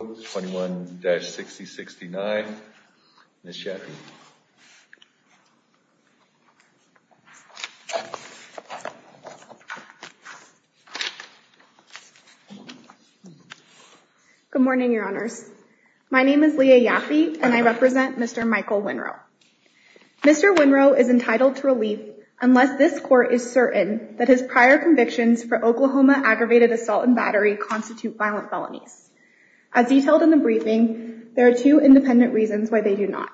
21-6069. Ms. Yaffe. Good morning, Your Honors. My name is Leah Yaffe and I represent Mr. Michael Winrow. Mr. Winrow is entitled to relief unless this court is certain that his prior convictions for Oklahoma aggravated assault and battery constitute violent felonies. As detailed in the briefing, there are two independent reasons why they do not.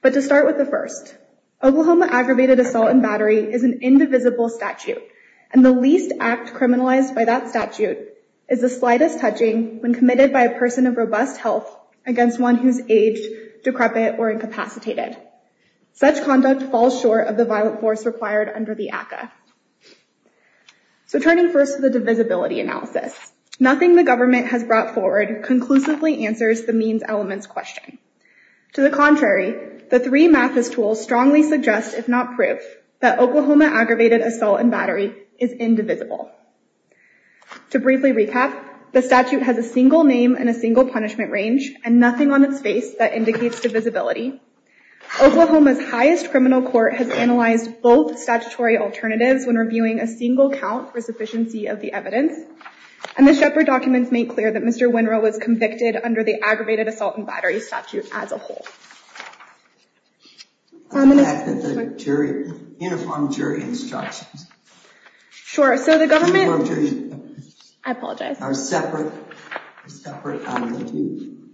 But to start with the first, Oklahoma aggravated assault and battery is an indivisible statute and the least act criminalized by that statute is the slightest touching when committed by a person of robust health against one who is aged, decrepit, or incapacitated. Such conduct falls short of the violent force required under the ACCA. So turning first to the divisibility analysis, nothing the government has brought forward conclusively answers the means-elements question. To the contrary, the three MAFIS tools strongly suggest, if not prove, that Oklahoma aggravated assault and battery is indivisible. To briefly recap, the statute has a single name and a single punishment range and nothing on its face that indicates divisibility. Oklahoma's highest criminal court has analyzed both statutory alternatives when reviewing a single count for sufficiency of the evidence. And the Shepard documents make clear that Mr. Winrow was convicted under the aggravated assault and battery statute as a whole. I'm going to ask that the uniform jury instructions are separate from the two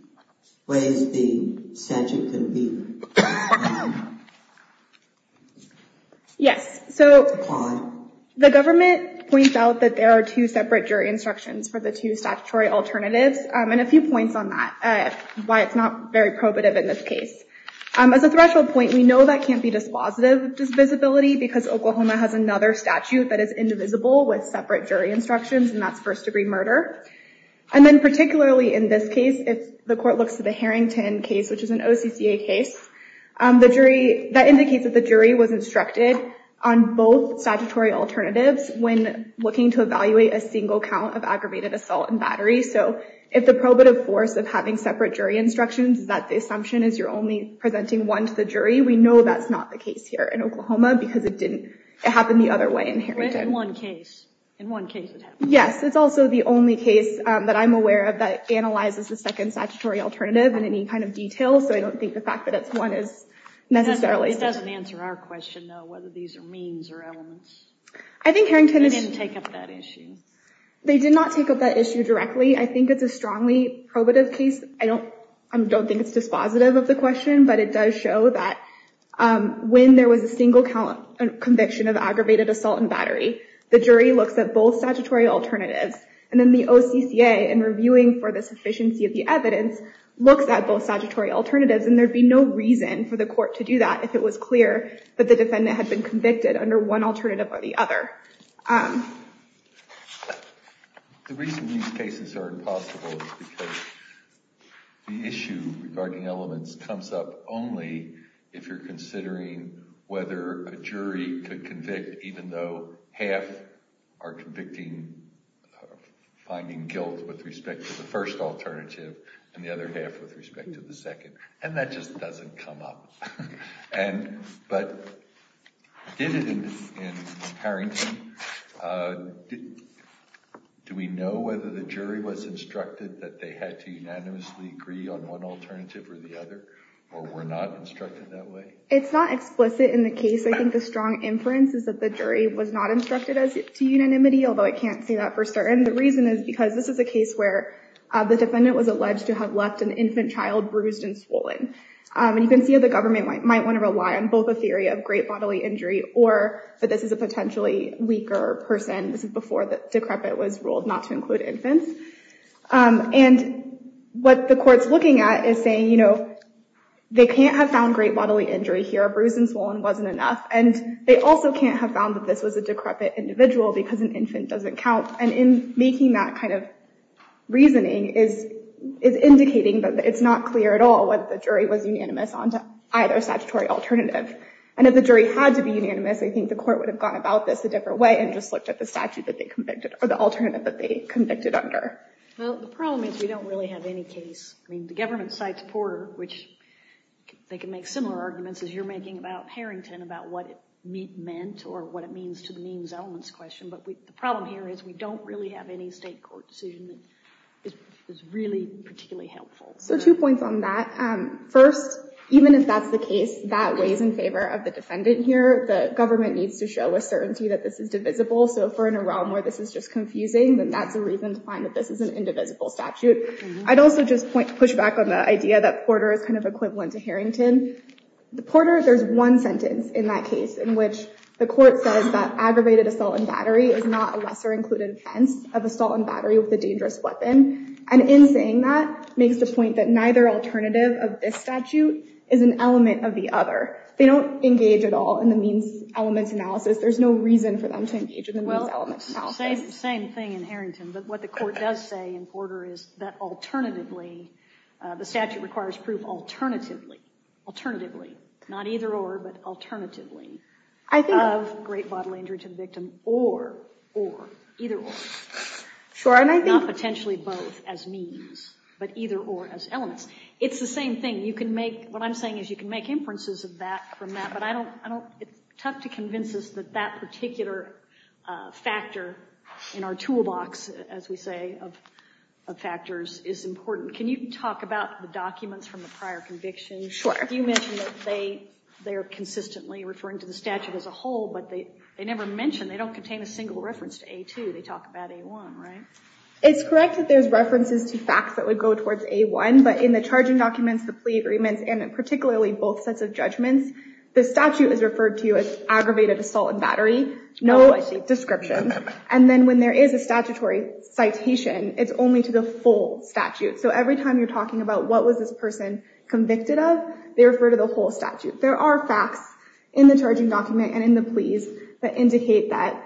ways the statute can be applied. Yes, so the government points out that there are two separate jury instructions for the two statutory alternatives and a few points on that, why it's not very probative in this case. As a threshold point, we know that can't be dispositive of divisibility because Oklahoma has another statute that is indivisible with separate jury instructions, and that's first-degree murder. And then particularly in this case, if the court looks at the Harrington case, which is an OCCA case, that indicates that the jury was instructed on both statutory alternatives when looking to evaluate a single count of aggravated assault and battery. So if the probative force of having separate jury instructions is that the assumption is you're only presenting one to the jury, we know that's not the case here in Oklahoma because it didn't happen the other way in Harrington. In one case. In one case it happened. Yes, it's also the only case that I'm aware of that analyzes the second statutory alternative in any kind of detail, so I don't think the fact that it's one is necessarily— It doesn't answer our question, though, whether these are means or elements. I think Harrington is— They didn't take up that issue. They did not take up that issue directly. I think it's a strongly probative case. I don't think it's dispositive of the question, but it does show that when there was a single conviction of aggravated assault and battery, the jury looks at both statutory alternatives. And then the OCCA, in reviewing for the sufficiency of the evidence, looks at both statutory alternatives, and there'd be no reason for the court to do that if it was clear that the defendant had been convicted under one alternative or the other. The reason these cases are impossible is because the issue regarding elements comes up only if you're considering whether a jury could convict even though half are finding guilt with respect to the first alternative and the other half with respect to the second. And that just doesn't come up. But did it in Harrington? Do we know whether the jury was instructed that they had to unanimously agree on one alternative or the other, or were not instructed that way? It's not explicit in the case. I think the strong inference is that the jury was not instructed to unanimity, although I can't say that for certain. The reason is because this is a case where the defendant was alleged to have left an infant child bruised and swollen. And you can see how the government might want to rely on both a theory of great bodily injury or that this is a potentially weaker person. This is before the decrepit was ruled not to include infants. And what the court's looking at is saying, you know, they can't have found great bodily injury here. A bruise and swollen wasn't enough. And they also can't have found that this was a decrepit individual because an infant doesn't count. Making that kind of reasoning is indicating that it's not clear at all whether the jury was unanimous on either statutory alternative. And if the jury had to be unanimous, I think the court would have gone about this a different way and just looked at the statute that they convicted, or the alternative that they convicted under. Well, the problem is we don't really have any case. I mean, the government cites Porter, which they can make similar arguments as you're making about Harrington, about what it meant or what it means to the means-elements question. But the problem here is we don't really have any state court decision that is really particularly helpful. So two points on that. First, even if that's the case, that weighs in favor of the defendant here. The government needs to show a certainty that this is divisible. So if we're in a realm where this is just confusing, then that's a reason to find that this is an indivisible statute. I'd also just push back on the idea that Porter is kind of equivalent to Harrington. Porter, there's one sentence in that case in which the court says that aggravated assault and battery is not a lesser included offense of assault and battery with a dangerous weapon. And in saying that, makes the point that neither alternative of this statute is an element of the other. They don't engage at all in the means-elements analysis. There's no reason for them to engage in the means-elements analysis. Well, same thing in Harrington. But what the court does say in Porter is that alternatively, the statute requires proof alternatively, alternatively, not either or, but alternatively, of great bodily injury to the victim or, or, either or. Not potentially both as means, but either or as elements. It's the same thing. What I'm saying is you can make inferences from that, but it's tough to convince us that that particular factor in our toolbox as we say of factors is important. Can you talk about the documents from the prior conviction? Sure. You mentioned that they are consistently referring to the statute as a whole, but they never mention, they don't contain a single reference to A2. They talk about A1, right? It's correct that there's references to facts that would go towards A1, but in the charging documents, the plea agreements, and particularly both sets of judgments, the statute is referred to as aggravated assault and battery, no description. And then when there is a statutory citation, it's only to the full statute. So every time you're talking about what was this person convicted of, they refer to the whole statute. There are facts in the charging document and in the pleas that indicate that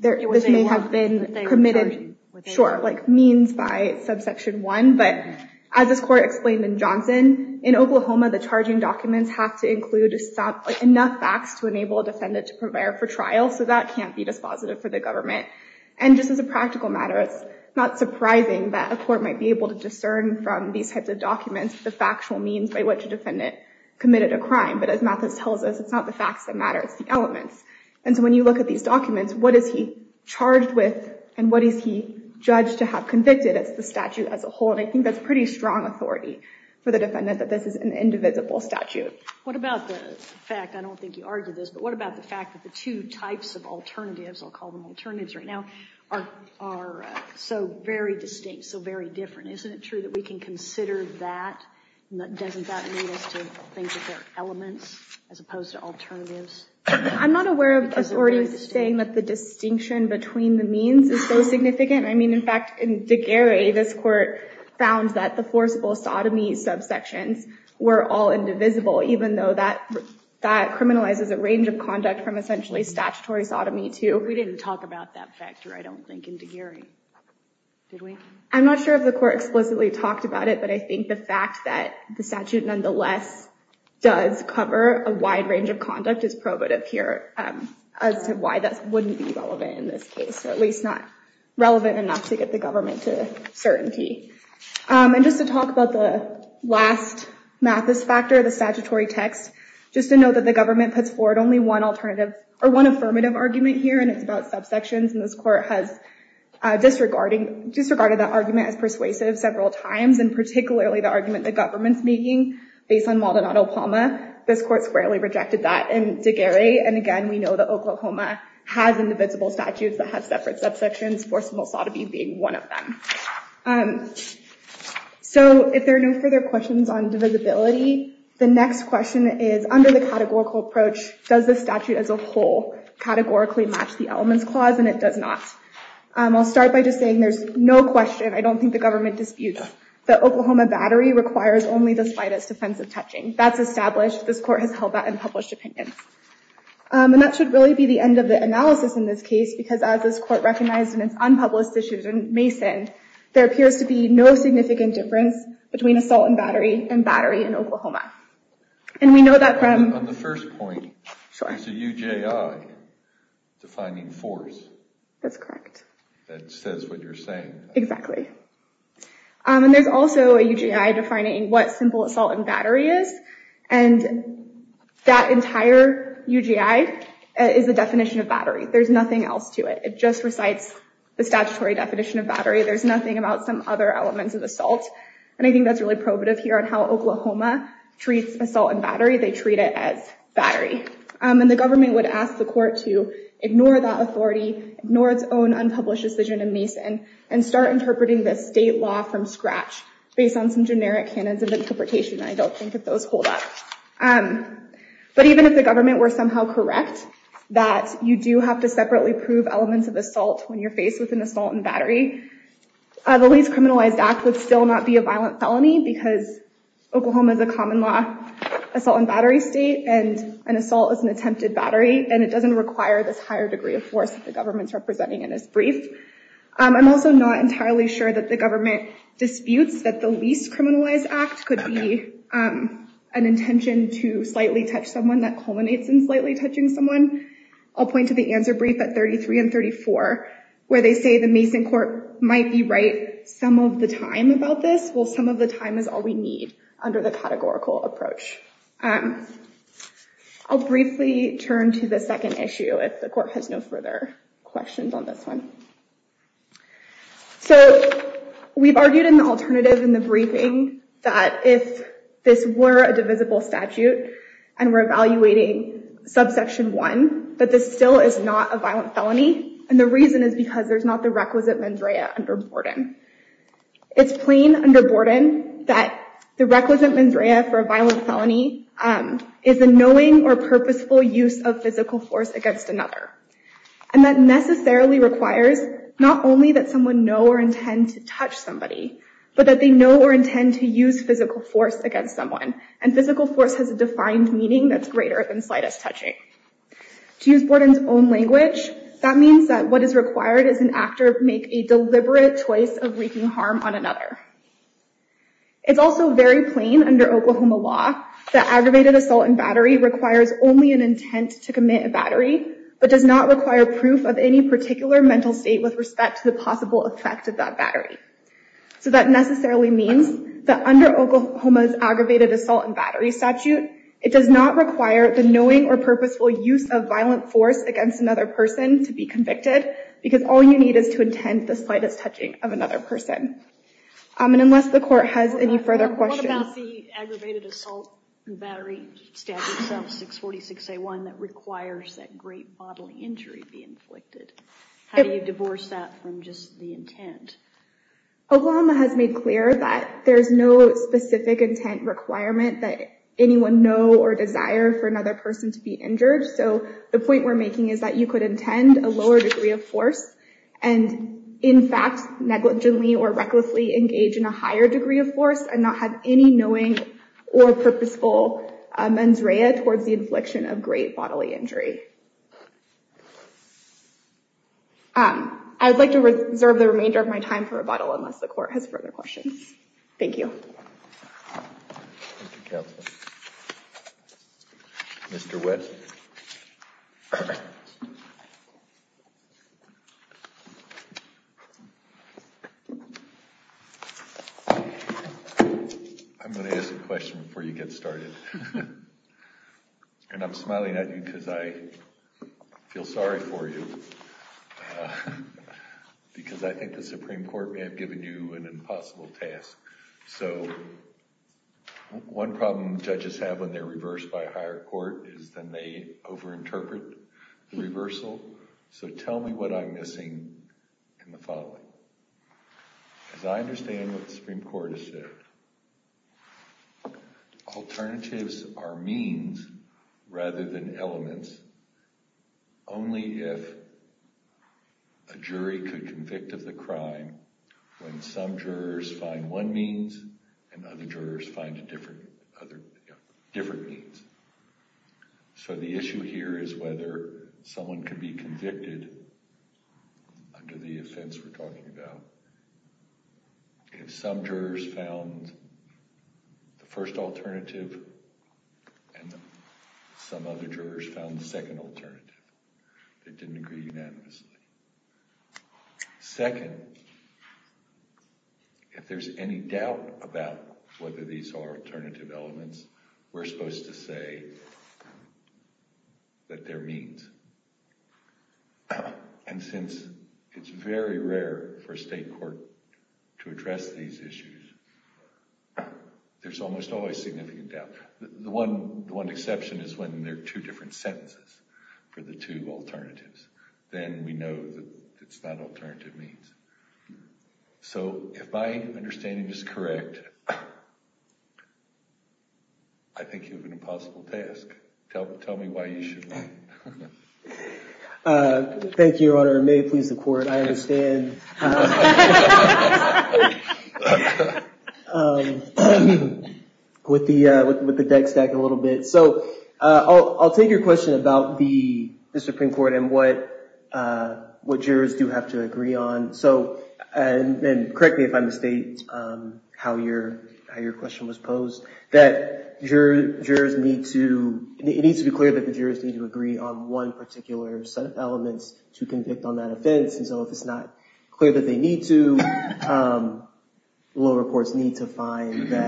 this may have been committed, sure, like means by subsection one. But as this court explained in Johnson, in Oklahoma, the charging documents have to include enough facts to enable a defendant to prepare for trial. So that can't be dispositive for the government. And just as a practical matter, it's not surprising that a court might be able to discern from these types of documents the factual means by which a defendant committed a crime. But as Mathis tells us, it's not the facts that matter, it's the elements. And so when you look at these documents, what is he charged with and what is he judged to have convicted? It's the statute as a whole. And I think that's pretty strong authority for the defendant that this is an indivisible statute. What about the fact, I don't think you argued this, but what about the fact that the two types of alternatives, I'll call them alternatives right now, are so very distinct, so very different. Isn't it true that we can consider that, and doesn't that lead us to think of their elements as opposed to alternatives? I'm not aware of authorities saying that the distinction between the means is so significant. I mean, in fact, in Degary, this court found that the forcible sodomy subsections were all indivisible. Even though that criminalizes a range of conduct from essentially statutory sodomy to... We didn't talk about that factor, I don't think, in Degary. Did we? I'm not sure if the court explicitly talked about it, but I think the fact that the statute nonetheless does cover a wide range of conduct is probative here as to why that wouldn't be relevant in this case. Or at least not relevant enough to get the government to certainty. And just to talk about the last mathis factor, the statutory text, just to note that the government puts forward only one affirmative argument here, and it's about subsections, and this court has disregarded that argument as persuasive several times, and particularly the argument the government's making based on Maldonado-Palma. This court squarely rejected that in Degary, and again, we know that Oklahoma has indivisible statutes that have separate subsections, forcible sodomy being one of them. So, if there are no further questions on divisibility, the next question is, under the categorical approach, does the statute as a whole categorically match the elements clause, and it does not. I'll start by just saying there's no question, I don't think the government disputes, that Oklahoma Battery requires only the slightest offensive touching. That's established, this court has held that in published opinions. And that should really be the end of the analysis in this case, because as this court recognized in its unpublished issues in Mason, there appears to be no significant difference between assault and battery, and battery in Oklahoma. And we know that from... On the first point, there's a UJI defining force. That's correct. That says what you're saying. Exactly. And there's also a UJI defining what simple assault and battery is, and that entire UJI is a definition of battery. There's nothing else to it. It just recites the statutory definition of battery. There's nothing about some other elements of assault, and I think that's really probative here on how Oklahoma treats assault and battery. They treat it as battery. And the government would ask the court to ignore that authority, ignore its own unpublished decision in Mason, and start interpreting this state law from scratch, based on some generic canons of interpretation. And I don't think that those hold up. But even if the government were somehow correct, that you do have to separately prove elements of assault when you're faced with an assault and battery, the Least Criminalized Act would still not be a violent felony, because Oklahoma is a common law assault and battery state, and an assault is an attempted battery. And it doesn't require this higher degree of force that the government's representing in this brief. I'm also not entirely sure that the government disputes that the Least Criminalized Act could be an intention to slightly touch someone that culminates in slightly touching someone. I'll point to the answer brief at 33 and 34, where they say the Mason court might be right some of the time about this. Well, some of the time is all we need under the categorical approach. I'll briefly turn to the second issue, if the court has no further questions on this one. So we've argued in the alternative, in the briefing, that if this were a divisible statute, and we're evaluating subsection 1, that this still is not a violent felony. And the reason is because there's not the requisite mandrea under Borden. It's plain under Borden that the requisite mandrea for a violent felony is a knowing or purposeful use of physical force against another. And that necessarily requires not only that someone know or intend to touch somebody, but that they know or intend to use physical force against someone. And physical force has a defined meaning that's greater than slightest touching. To use Borden's own language, that means that what is required is an actor make a deliberate choice of wreaking harm on another. It's also very plain under Oklahoma law that aggravated assault and battery requires only an intent to commit a battery, but does not require proof of any particular mental state with respect to the possible effect of that battery. So that necessarily means that under Oklahoma's aggravated assault and battery statute, it does not require the knowing or purposeful use of violent force against another person to be convicted, because all you need is to intend the slightest touching of another person. And unless the court has any further questions. What about the aggravated assault and battery statute, 646A1, that requires that great bodily injury be inflicted? How do you divorce that from just the intent? Oklahoma has made clear that there's no specific intent requirement that anyone know or desire for another person to be injured. So the point we're making is that you could intend a lower degree of force and, in fact, negligently or recklessly engage in a higher degree of force and not have any knowing or purposeful mens rea towards the infliction of great bodily injury. I would like to reserve the remainder of my time for rebuttal unless the court has further questions. Thank you. Thank you, Counselor. Mr. West. I'm going to ask a question before you get started. And I'm smiling at you because I feel sorry for you. Because I think the Supreme Court may have given you an impossible task. So one problem judges have when they're reversed by a higher court is then they over-interpret the reversal. So tell me what I'm missing in the following. As I understand what the Supreme Court has said, alternatives are means rather than elements. Only if a jury could convict of the crime when some jurors find one means and other jurors find a different means. So the issue here is whether someone can be convicted under the offense we're talking about. If some jurors found the first alternative and some other jurors found the second alternative. They didn't agree unanimously. Second, if there's any doubt about whether these are alternative elements, we're supposed to say that they're means. And since it's very rare for a state court to address these issues, there's almost always significant doubt. The one exception is when there are two different sentences for the two alternatives. Then we know that it's not alternative means. So if my understanding is correct, I think you have an impossible task. Tell me why you should run. Thank you, Your Honor. May it please the court. I understand. With the deck stack a little bit. I'll take your question about the Supreme Court and what jurors do have to agree on. Correct me if I mistake how your question was posed. It needs to be clear that the jurors need to agree on one particular set of elements to convict on that offense. So if it's not clear that they need to, lower courts need to find their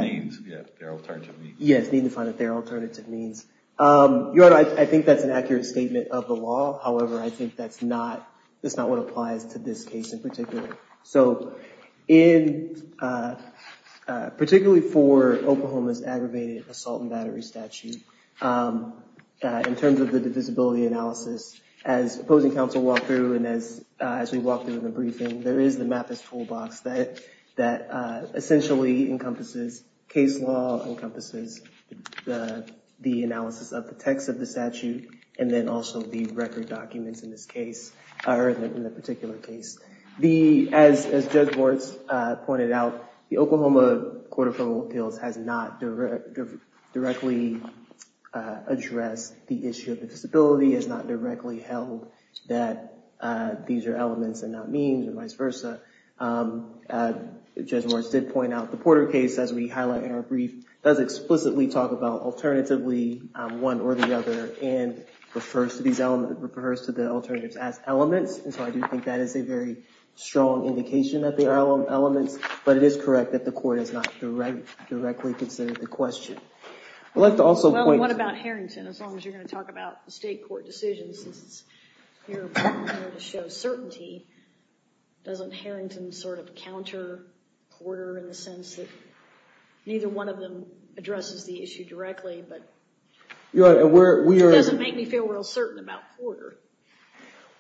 alternative means. Your Honor, I think that's an accurate statement of the law. However, I think that's not what applies to this case in particular. So particularly for Oklahoma's aggravated assault and battery statute, in terms of the divisibility analysis, as opposing counsel walked through and as we walked through in the briefing, there is the MAPIS toolbox that essentially encompasses case law, encompasses the analysis of the text of the statute, and then also the record documents in this case, or in the particular case. As Judge Warts pointed out, the Oklahoma Court of Criminal Appeals has not directly addressed the issue of the disability, has not directly held that these are elements and not means and vice versa. Judge Warts did point out the Porter case, as we highlight in our brief, does explicitly talk about alternatively one or the other and refers to the alternatives as elements. And so I do think that is a very strong indication that they are elements, but it is correct that the court has not directly considered the question. Well, what about Harrington? As long as you're going to talk about the state court decisions, since you're here to show certainty, doesn't Harrington sort of counter Porter in the sense that neither one of them addresses the issue directly, but it doesn't make me feel real certain about Porter.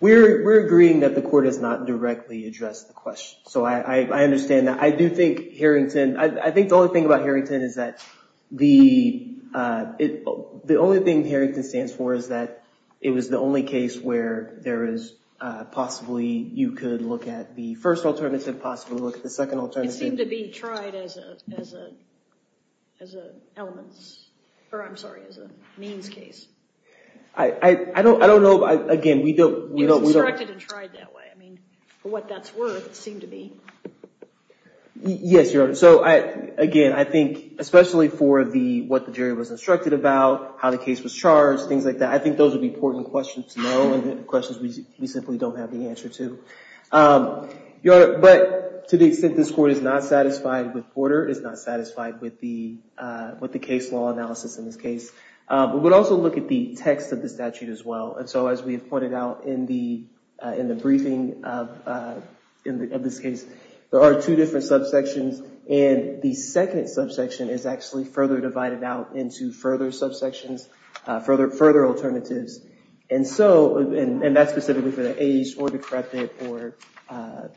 We're agreeing that the court has not directly addressed the question, so I understand that. I do think Harrington, I think the only thing about Harrington is that the, the only thing Harrington stands for is that it was the only case where there is possibly, you could look at the first alternative, possibly look at the second alternative. It seemed to be tried as an elements, or I'm sorry, as a means case. I don't know, again, we don't. It was instructed and tried that way. I mean, for what that's worth, it seemed to be. Yes, Your Honor. So, again, I think, especially for the, what the jury was instructed about, how the case was charged, things like that, I think those would be important questions to know, and questions we simply don't have the answer to. Your Honor, but to the extent this court is not satisfied with Porter, it is not satisfied with the, with the case law analysis in this case. We would also look at the text of the statute as well, and so as we have pointed out in the, in the briefing of this case, there are two different subsections, and the second subsection is actually further divided out into further subsections, further alternatives, and so, and that's specifically for the aged or decrepit or, or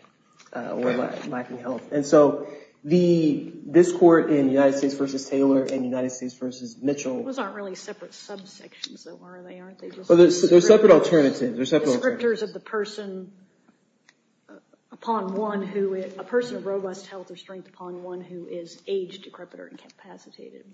lacking health, and so the, this court in United States v. Taylor and United States v. Mitchell. They're not really separate subsections, though, are they, aren't they? Well, they're separate alternatives. They're separate alternatives. Descriptors of the person upon one who, a person of robust health or strength upon one who is aged, decrepit, or incapacitated.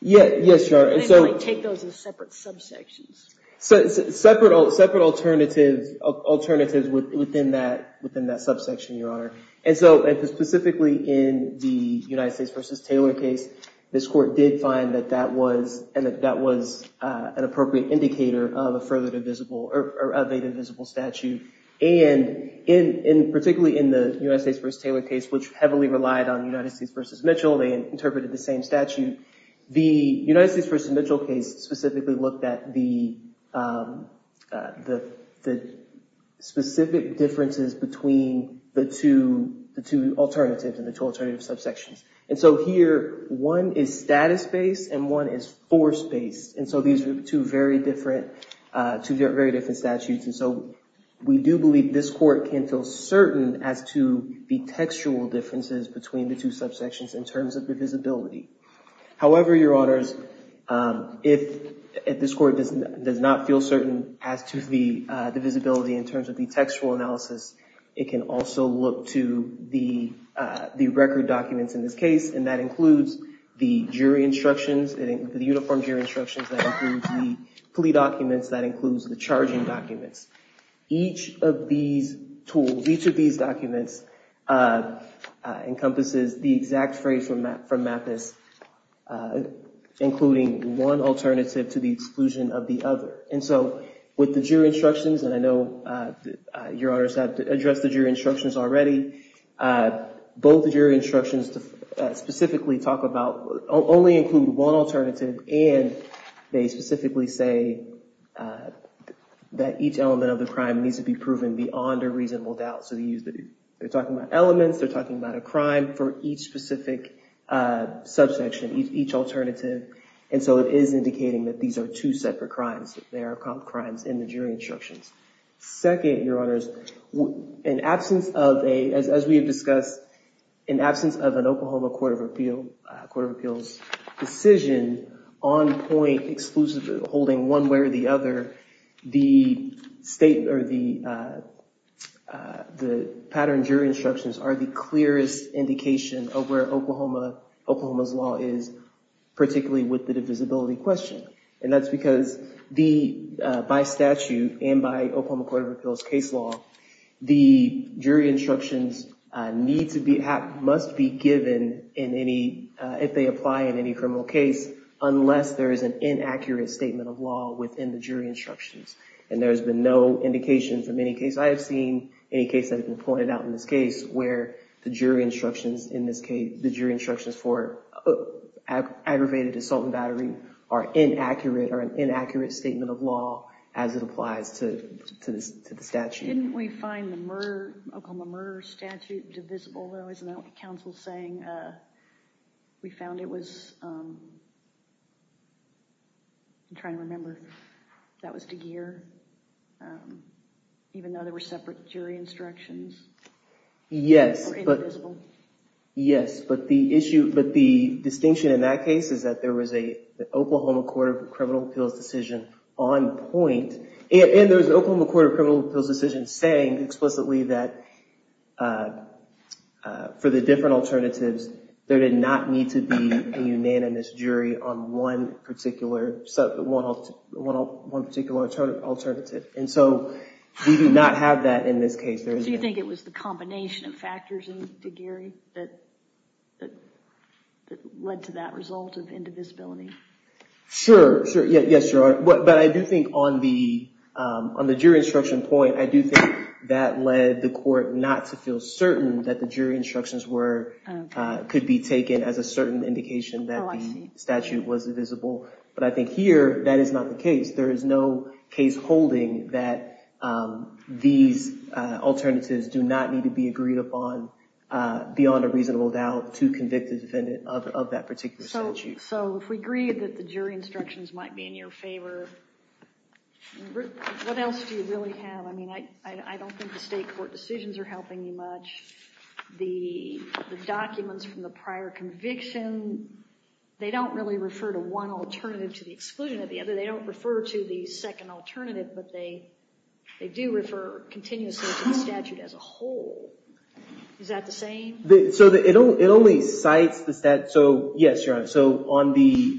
Yeah, yes, Your Honor, and so. I didn't really take those as separate subsections. Separate, separate alternatives, alternatives within that, within that subsection, Your Honor, and so specifically in the United States v. Taylor case, this court did find that that was, and that that was an appropriate indicator of a further divisible, or of a divisible statute, and in, in particularly in the United States v. Taylor case, which heavily relied on United States v. Mitchell, they interpreted the same statute. The United States v. Mitchell case specifically looked at the, the, the specific differences between the two, the two alternatives and the two alternative subsections, and so here, one is status-based and one is force-based, and so these are two very different, two very different statutes, and so we do believe this court can feel certain as to the textual differences between the two subsections in terms of the visibility. However, Your Honors, if, if this court does not feel certain as to the, the visibility in terms of the textual analysis, it can also look to the, the record documents in this case, and that includes the jury instructions, the uniform jury instructions, that includes the plea documents, that includes the charging documents. Each of these tools, each of these documents, encompasses the exact phrase from Mappus, including one alternative to the exclusion of the other, and so with the jury instructions, and I know Your Honors have addressed the jury instructions already, both the jury instructions specifically talk about, only include one alternative, and they specifically say that each element of the crime needs to be proven beyond a reasonable doubt, so they use the, they're talking about elements, they're talking about a crime for each specific subsection, each alternative, and so it is indicating that these are two separate crimes, that they are crimes in the jury instructions. Second, Your Honors, in absence of a, as we have discussed, in absence of an Oklahoma Court of Appeals decision on point exclusively holding one way or the other, the state or the, the pattern jury instructions are the clearest indication of where Oklahoma, Oklahoma's law is, particularly with the divisibility question, and that's because the, by statute, and by Oklahoma Court of Appeals case law, the jury instructions need to be, must be given in any, if they apply in any criminal case, unless there is an inaccurate statement of law within the jury instructions, and there has been no indication from any case, I have seen any case that has been pointed out in this case where the jury instructions in this case, the jury instructions for aggravated assault and battery are inaccurate or an inaccurate statement of law as it applies to the statute. Didn't we find the murder, Oklahoma murder statute divisible though, isn't that what the counsel is saying? We found it was, I'm trying to remember, that was DeGear, even though there were separate jury instructions? Yes, but, yes, but the issue, but the distinction in that case is that there was a Oklahoma Court of Criminal Appeals decision on point, and there was an Oklahoma Court of Criminal Appeals decision saying explicitly that for the different alternatives, there did not need to be a unanimous jury on one particular, one particular alternative, and so we do not have that in this case. So you think it was the combination of factors in DeGear that led to that result of indivisibility? Sure, yes, but I do think on the jury instruction point, I do think that led the court not to feel certain that the jury instructions could be taken as a certain indication that the statute was divisible, but I think here, that is not the case. There is no case holding that these alternatives do not need to be agreed upon beyond a reasonable doubt to convict a defendant of that particular statute. So if we agree that the jury instructions might be in your favor, what else do you really have? I mean, I don't think the state court decisions are helping you much. The documents from the prior conviction, they don't really refer to one alternative to the exclusion of the other. They don't refer to the second alternative, but they do refer continuously to the statute as a whole. Is that the same? So it only cites the statute. So yes, Your Honor, so on the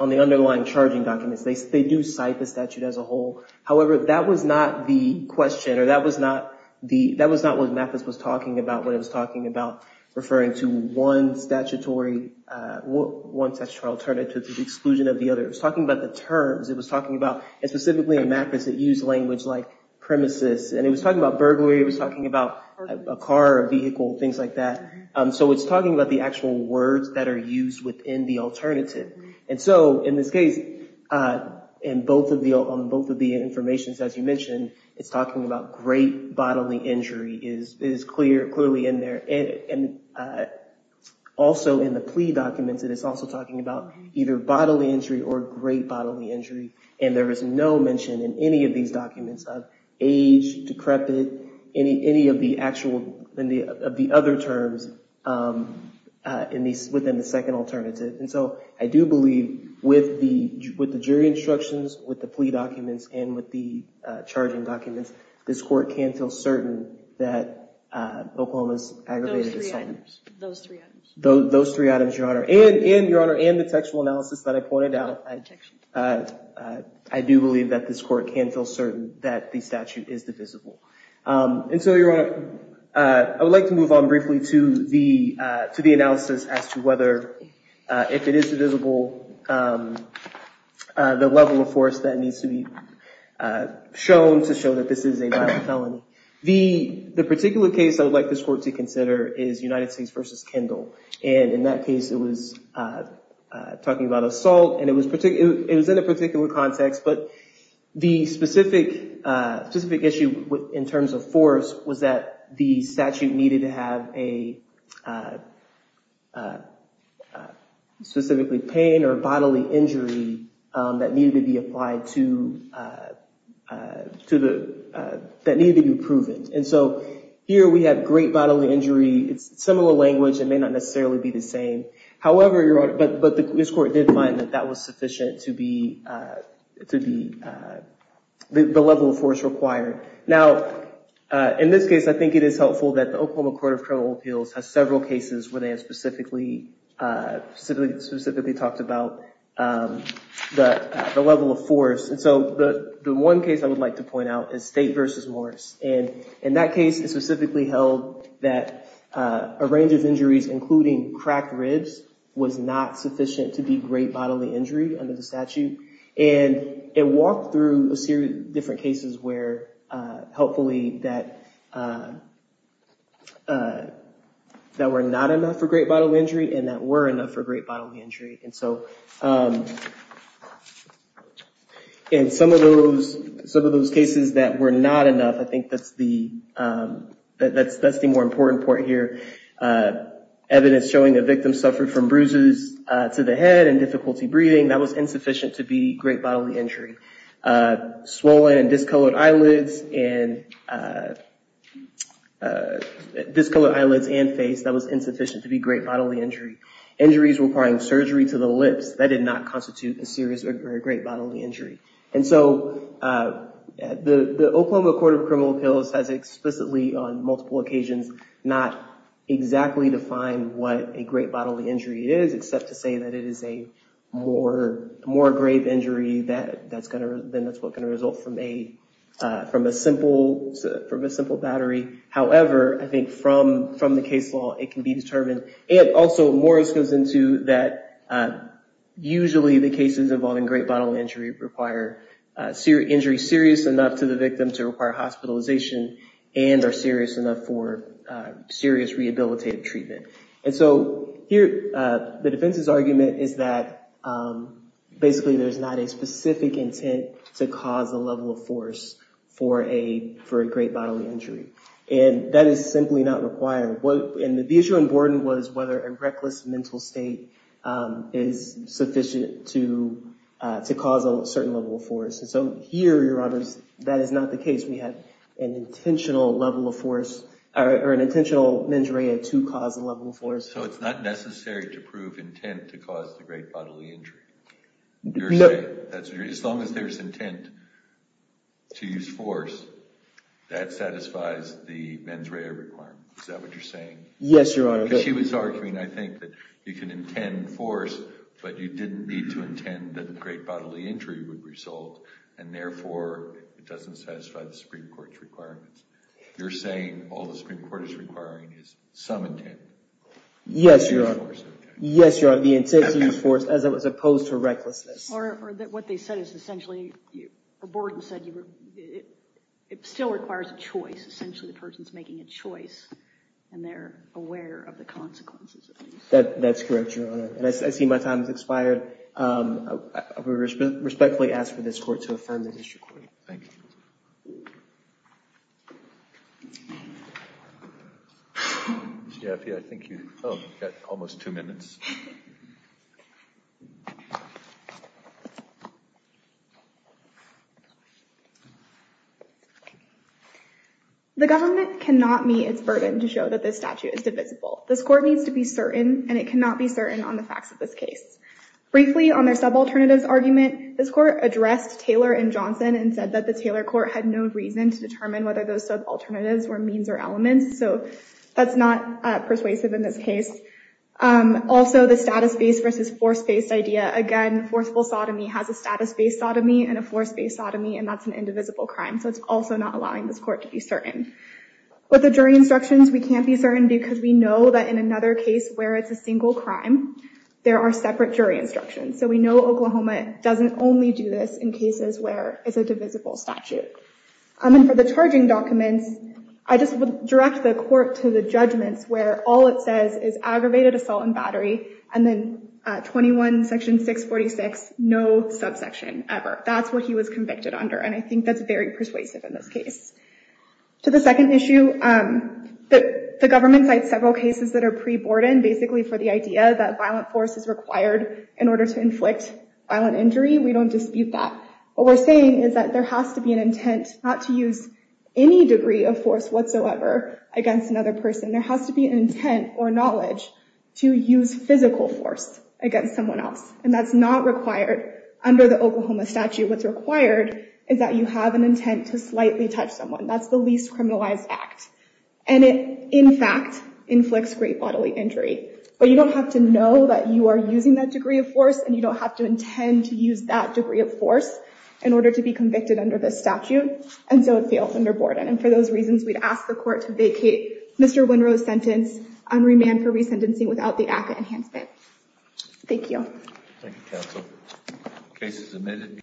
underlying charging documents, they do cite the statute as a whole. However, that was not the question, or that was not what Mathis was talking about when he was talking about referring to one statutory alternative to the exclusion of the other. It was talking about terms. It was talking about, and specifically in Mathis, it used language like premises. And it was talking about burglary. It was talking about a car, a vehicle, things like that. So it's talking about the actual words that are used within the alternative. And so in this case, on both of the information, as you mentioned, it's talking about great bodily injury. It is clearly in there. And also in the plea documents, it is also talking about either bodily injury or great bodily injury. And there is no mention in any of these documents of age, decrepit, any of the actual, of the other terms within the second alternative. And so I do believe with the jury instructions, with the plea documents, and with the charging documents, this Court can feel certain that Oklahoma's aggravated assault. Those three items. And, Your Honor, and the textual analysis that I pointed out, I do believe that this Court can feel certain that the statute is divisible. And so, Your Honor, I would like to move on briefly to the analysis as to whether, if it is divisible, the level of force that needs to be shown to show that this is a violent felony. The particular case I would like this Court to consider is United States v. Kendall. And in that case, it was talking about assault, and it was in a particular context, but the specific issue in terms of force was that the statute needed to have a, specifically, pain or bodily injury that needed to be applied to, that needed to be proven. And so here we have great bodily injury. It's similar language. It may not necessarily be the same. However, Your Honor, but this Court did find that that was sufficient to be, the level of force required. Now, in this case, I think it is helpful that the Oklahoma Court of Criminal Appeals has several cases where they have specifically, specifically talked about the level of force. And so the one case I would like to point out is State v. Morris. And in that case, it specifically held that a range of injuries, including cracked ribs, was not sufficient to be great bodily injury under the statute. And it walked through a series of different cases where, helpfully, that were not enough for great bodily injury and that were enough for great bodily injury. And so in some of those cases that were not enough, I think that's the more important part here. Evidence showing the victim suffered from bruises to the head and difficulty breathing, that was insufficient to be great bodily injury. Swollen and discolored eyelids and, discolored eyelids and face, that was insufficient to be great bodily injury. Injuries requiring surgery to the lips, that did not constitute a serious or great bodily injury. And so the Oklahoma Court of Criminal Appeals has explicitly, on multiple occasions, not exactly defined what a great bodily injury is, except to say that it is a more grave injury than what's going to result from a simple battery. However, I think from the case law, it can be determined. And also, Morris goes into that usually the cases involving great bodily injury require injury serious enough to the victim to require hospitalization and are serious enough for serious rehabilitative treatment. And so here, the defense's argument is that basically there's not a specific intent to cause a level of force for a great bodily injury. And that is simply not required. And the issue in Borden was whether a reckless mental state is sufficient to cause a certain level of force. And so here, Your Honor, that is not the case. We have an intentional level of force or an intentional mens rea to cause a level of force. So it's not necessary to prove intent to cause the great bodily injury? As long as there's intent to use force, that satisfies the mens rea requirement. Is that what you're saying? Yes, Your Honor. Because she was arguing, I think, that you can intend force, but you didn't need to intend that a great bodily injury would result. And therefore, it doesn't satisfy the Supreme Court's requirements. You're saying all the Supreme Court is requiring is some intent to use force. Yes, Your Honor. Yes, Your Honor, the intent to use force as opposed to recklessness. Or what they said is essentially, Borden said it still requires choice. Essentially, the person's making a choice and they're aware of the consequences. That's correct, Your Honor. Your Honor, my time has expired. I respectfully ask for this court to affirm the district court. Thank you. Ms. Jaffe, I think you've got almost two minutes. The government cannot meet its burden to show that this statute is divisible. This court needs to be certain, and it cannot be certain on the facts of this case. Briefly, on their subalternatives argument, this court addressed Taylor and Johnson and said that the Taylor court had no reason to determine whether those subalternatives were means or elements. So that's not persuasive in this case. Also, the status-based versus force-based idea. Again, forceful sodomy has a status-based sodomy and a force-based sodomy, and that's an indivisible crime. So it's also not allowing this court to be certain. With the jury instructions, we can't be certain because we know that in another case where it's a single crime, there are separate jury instructions. So we know Oklahoma doesn't only do this in cases where it's a divisible statute. And then for the charging documents, I just would direct the court to the judgments where all it says is aggravated assault and battery and then 21 section 646, no subsection ever. That's what he was convicted under, and I think that's very persuasive in this case. To the second issue, the government cites several cases that are pre-Borden basically for the idea that violent force is required in order to inflict violent injury. We don't dispute that. What we're saying is that there has to be an intent not to use any degree of force whatsoever against another person. There has to be an intent or knowledge to use physical force against someone else, and that's not required under the Oklahoma statute. What's required is that you have an intent to slightly touch someone. That's the least criminalized act. And it, in fact, inflicts great bodily injury. But you don't have to know that you are using that degree of force and you don't have to intend to use that degree of force in order to be convicted under this statute, and so it fails under Borden. And for those reasons, we'd ask the court to vacate Mr. Winrow's sentence and remand for resentencing without the ACCA enhancement. Thank you. Thank you, counsel. Case is admitted.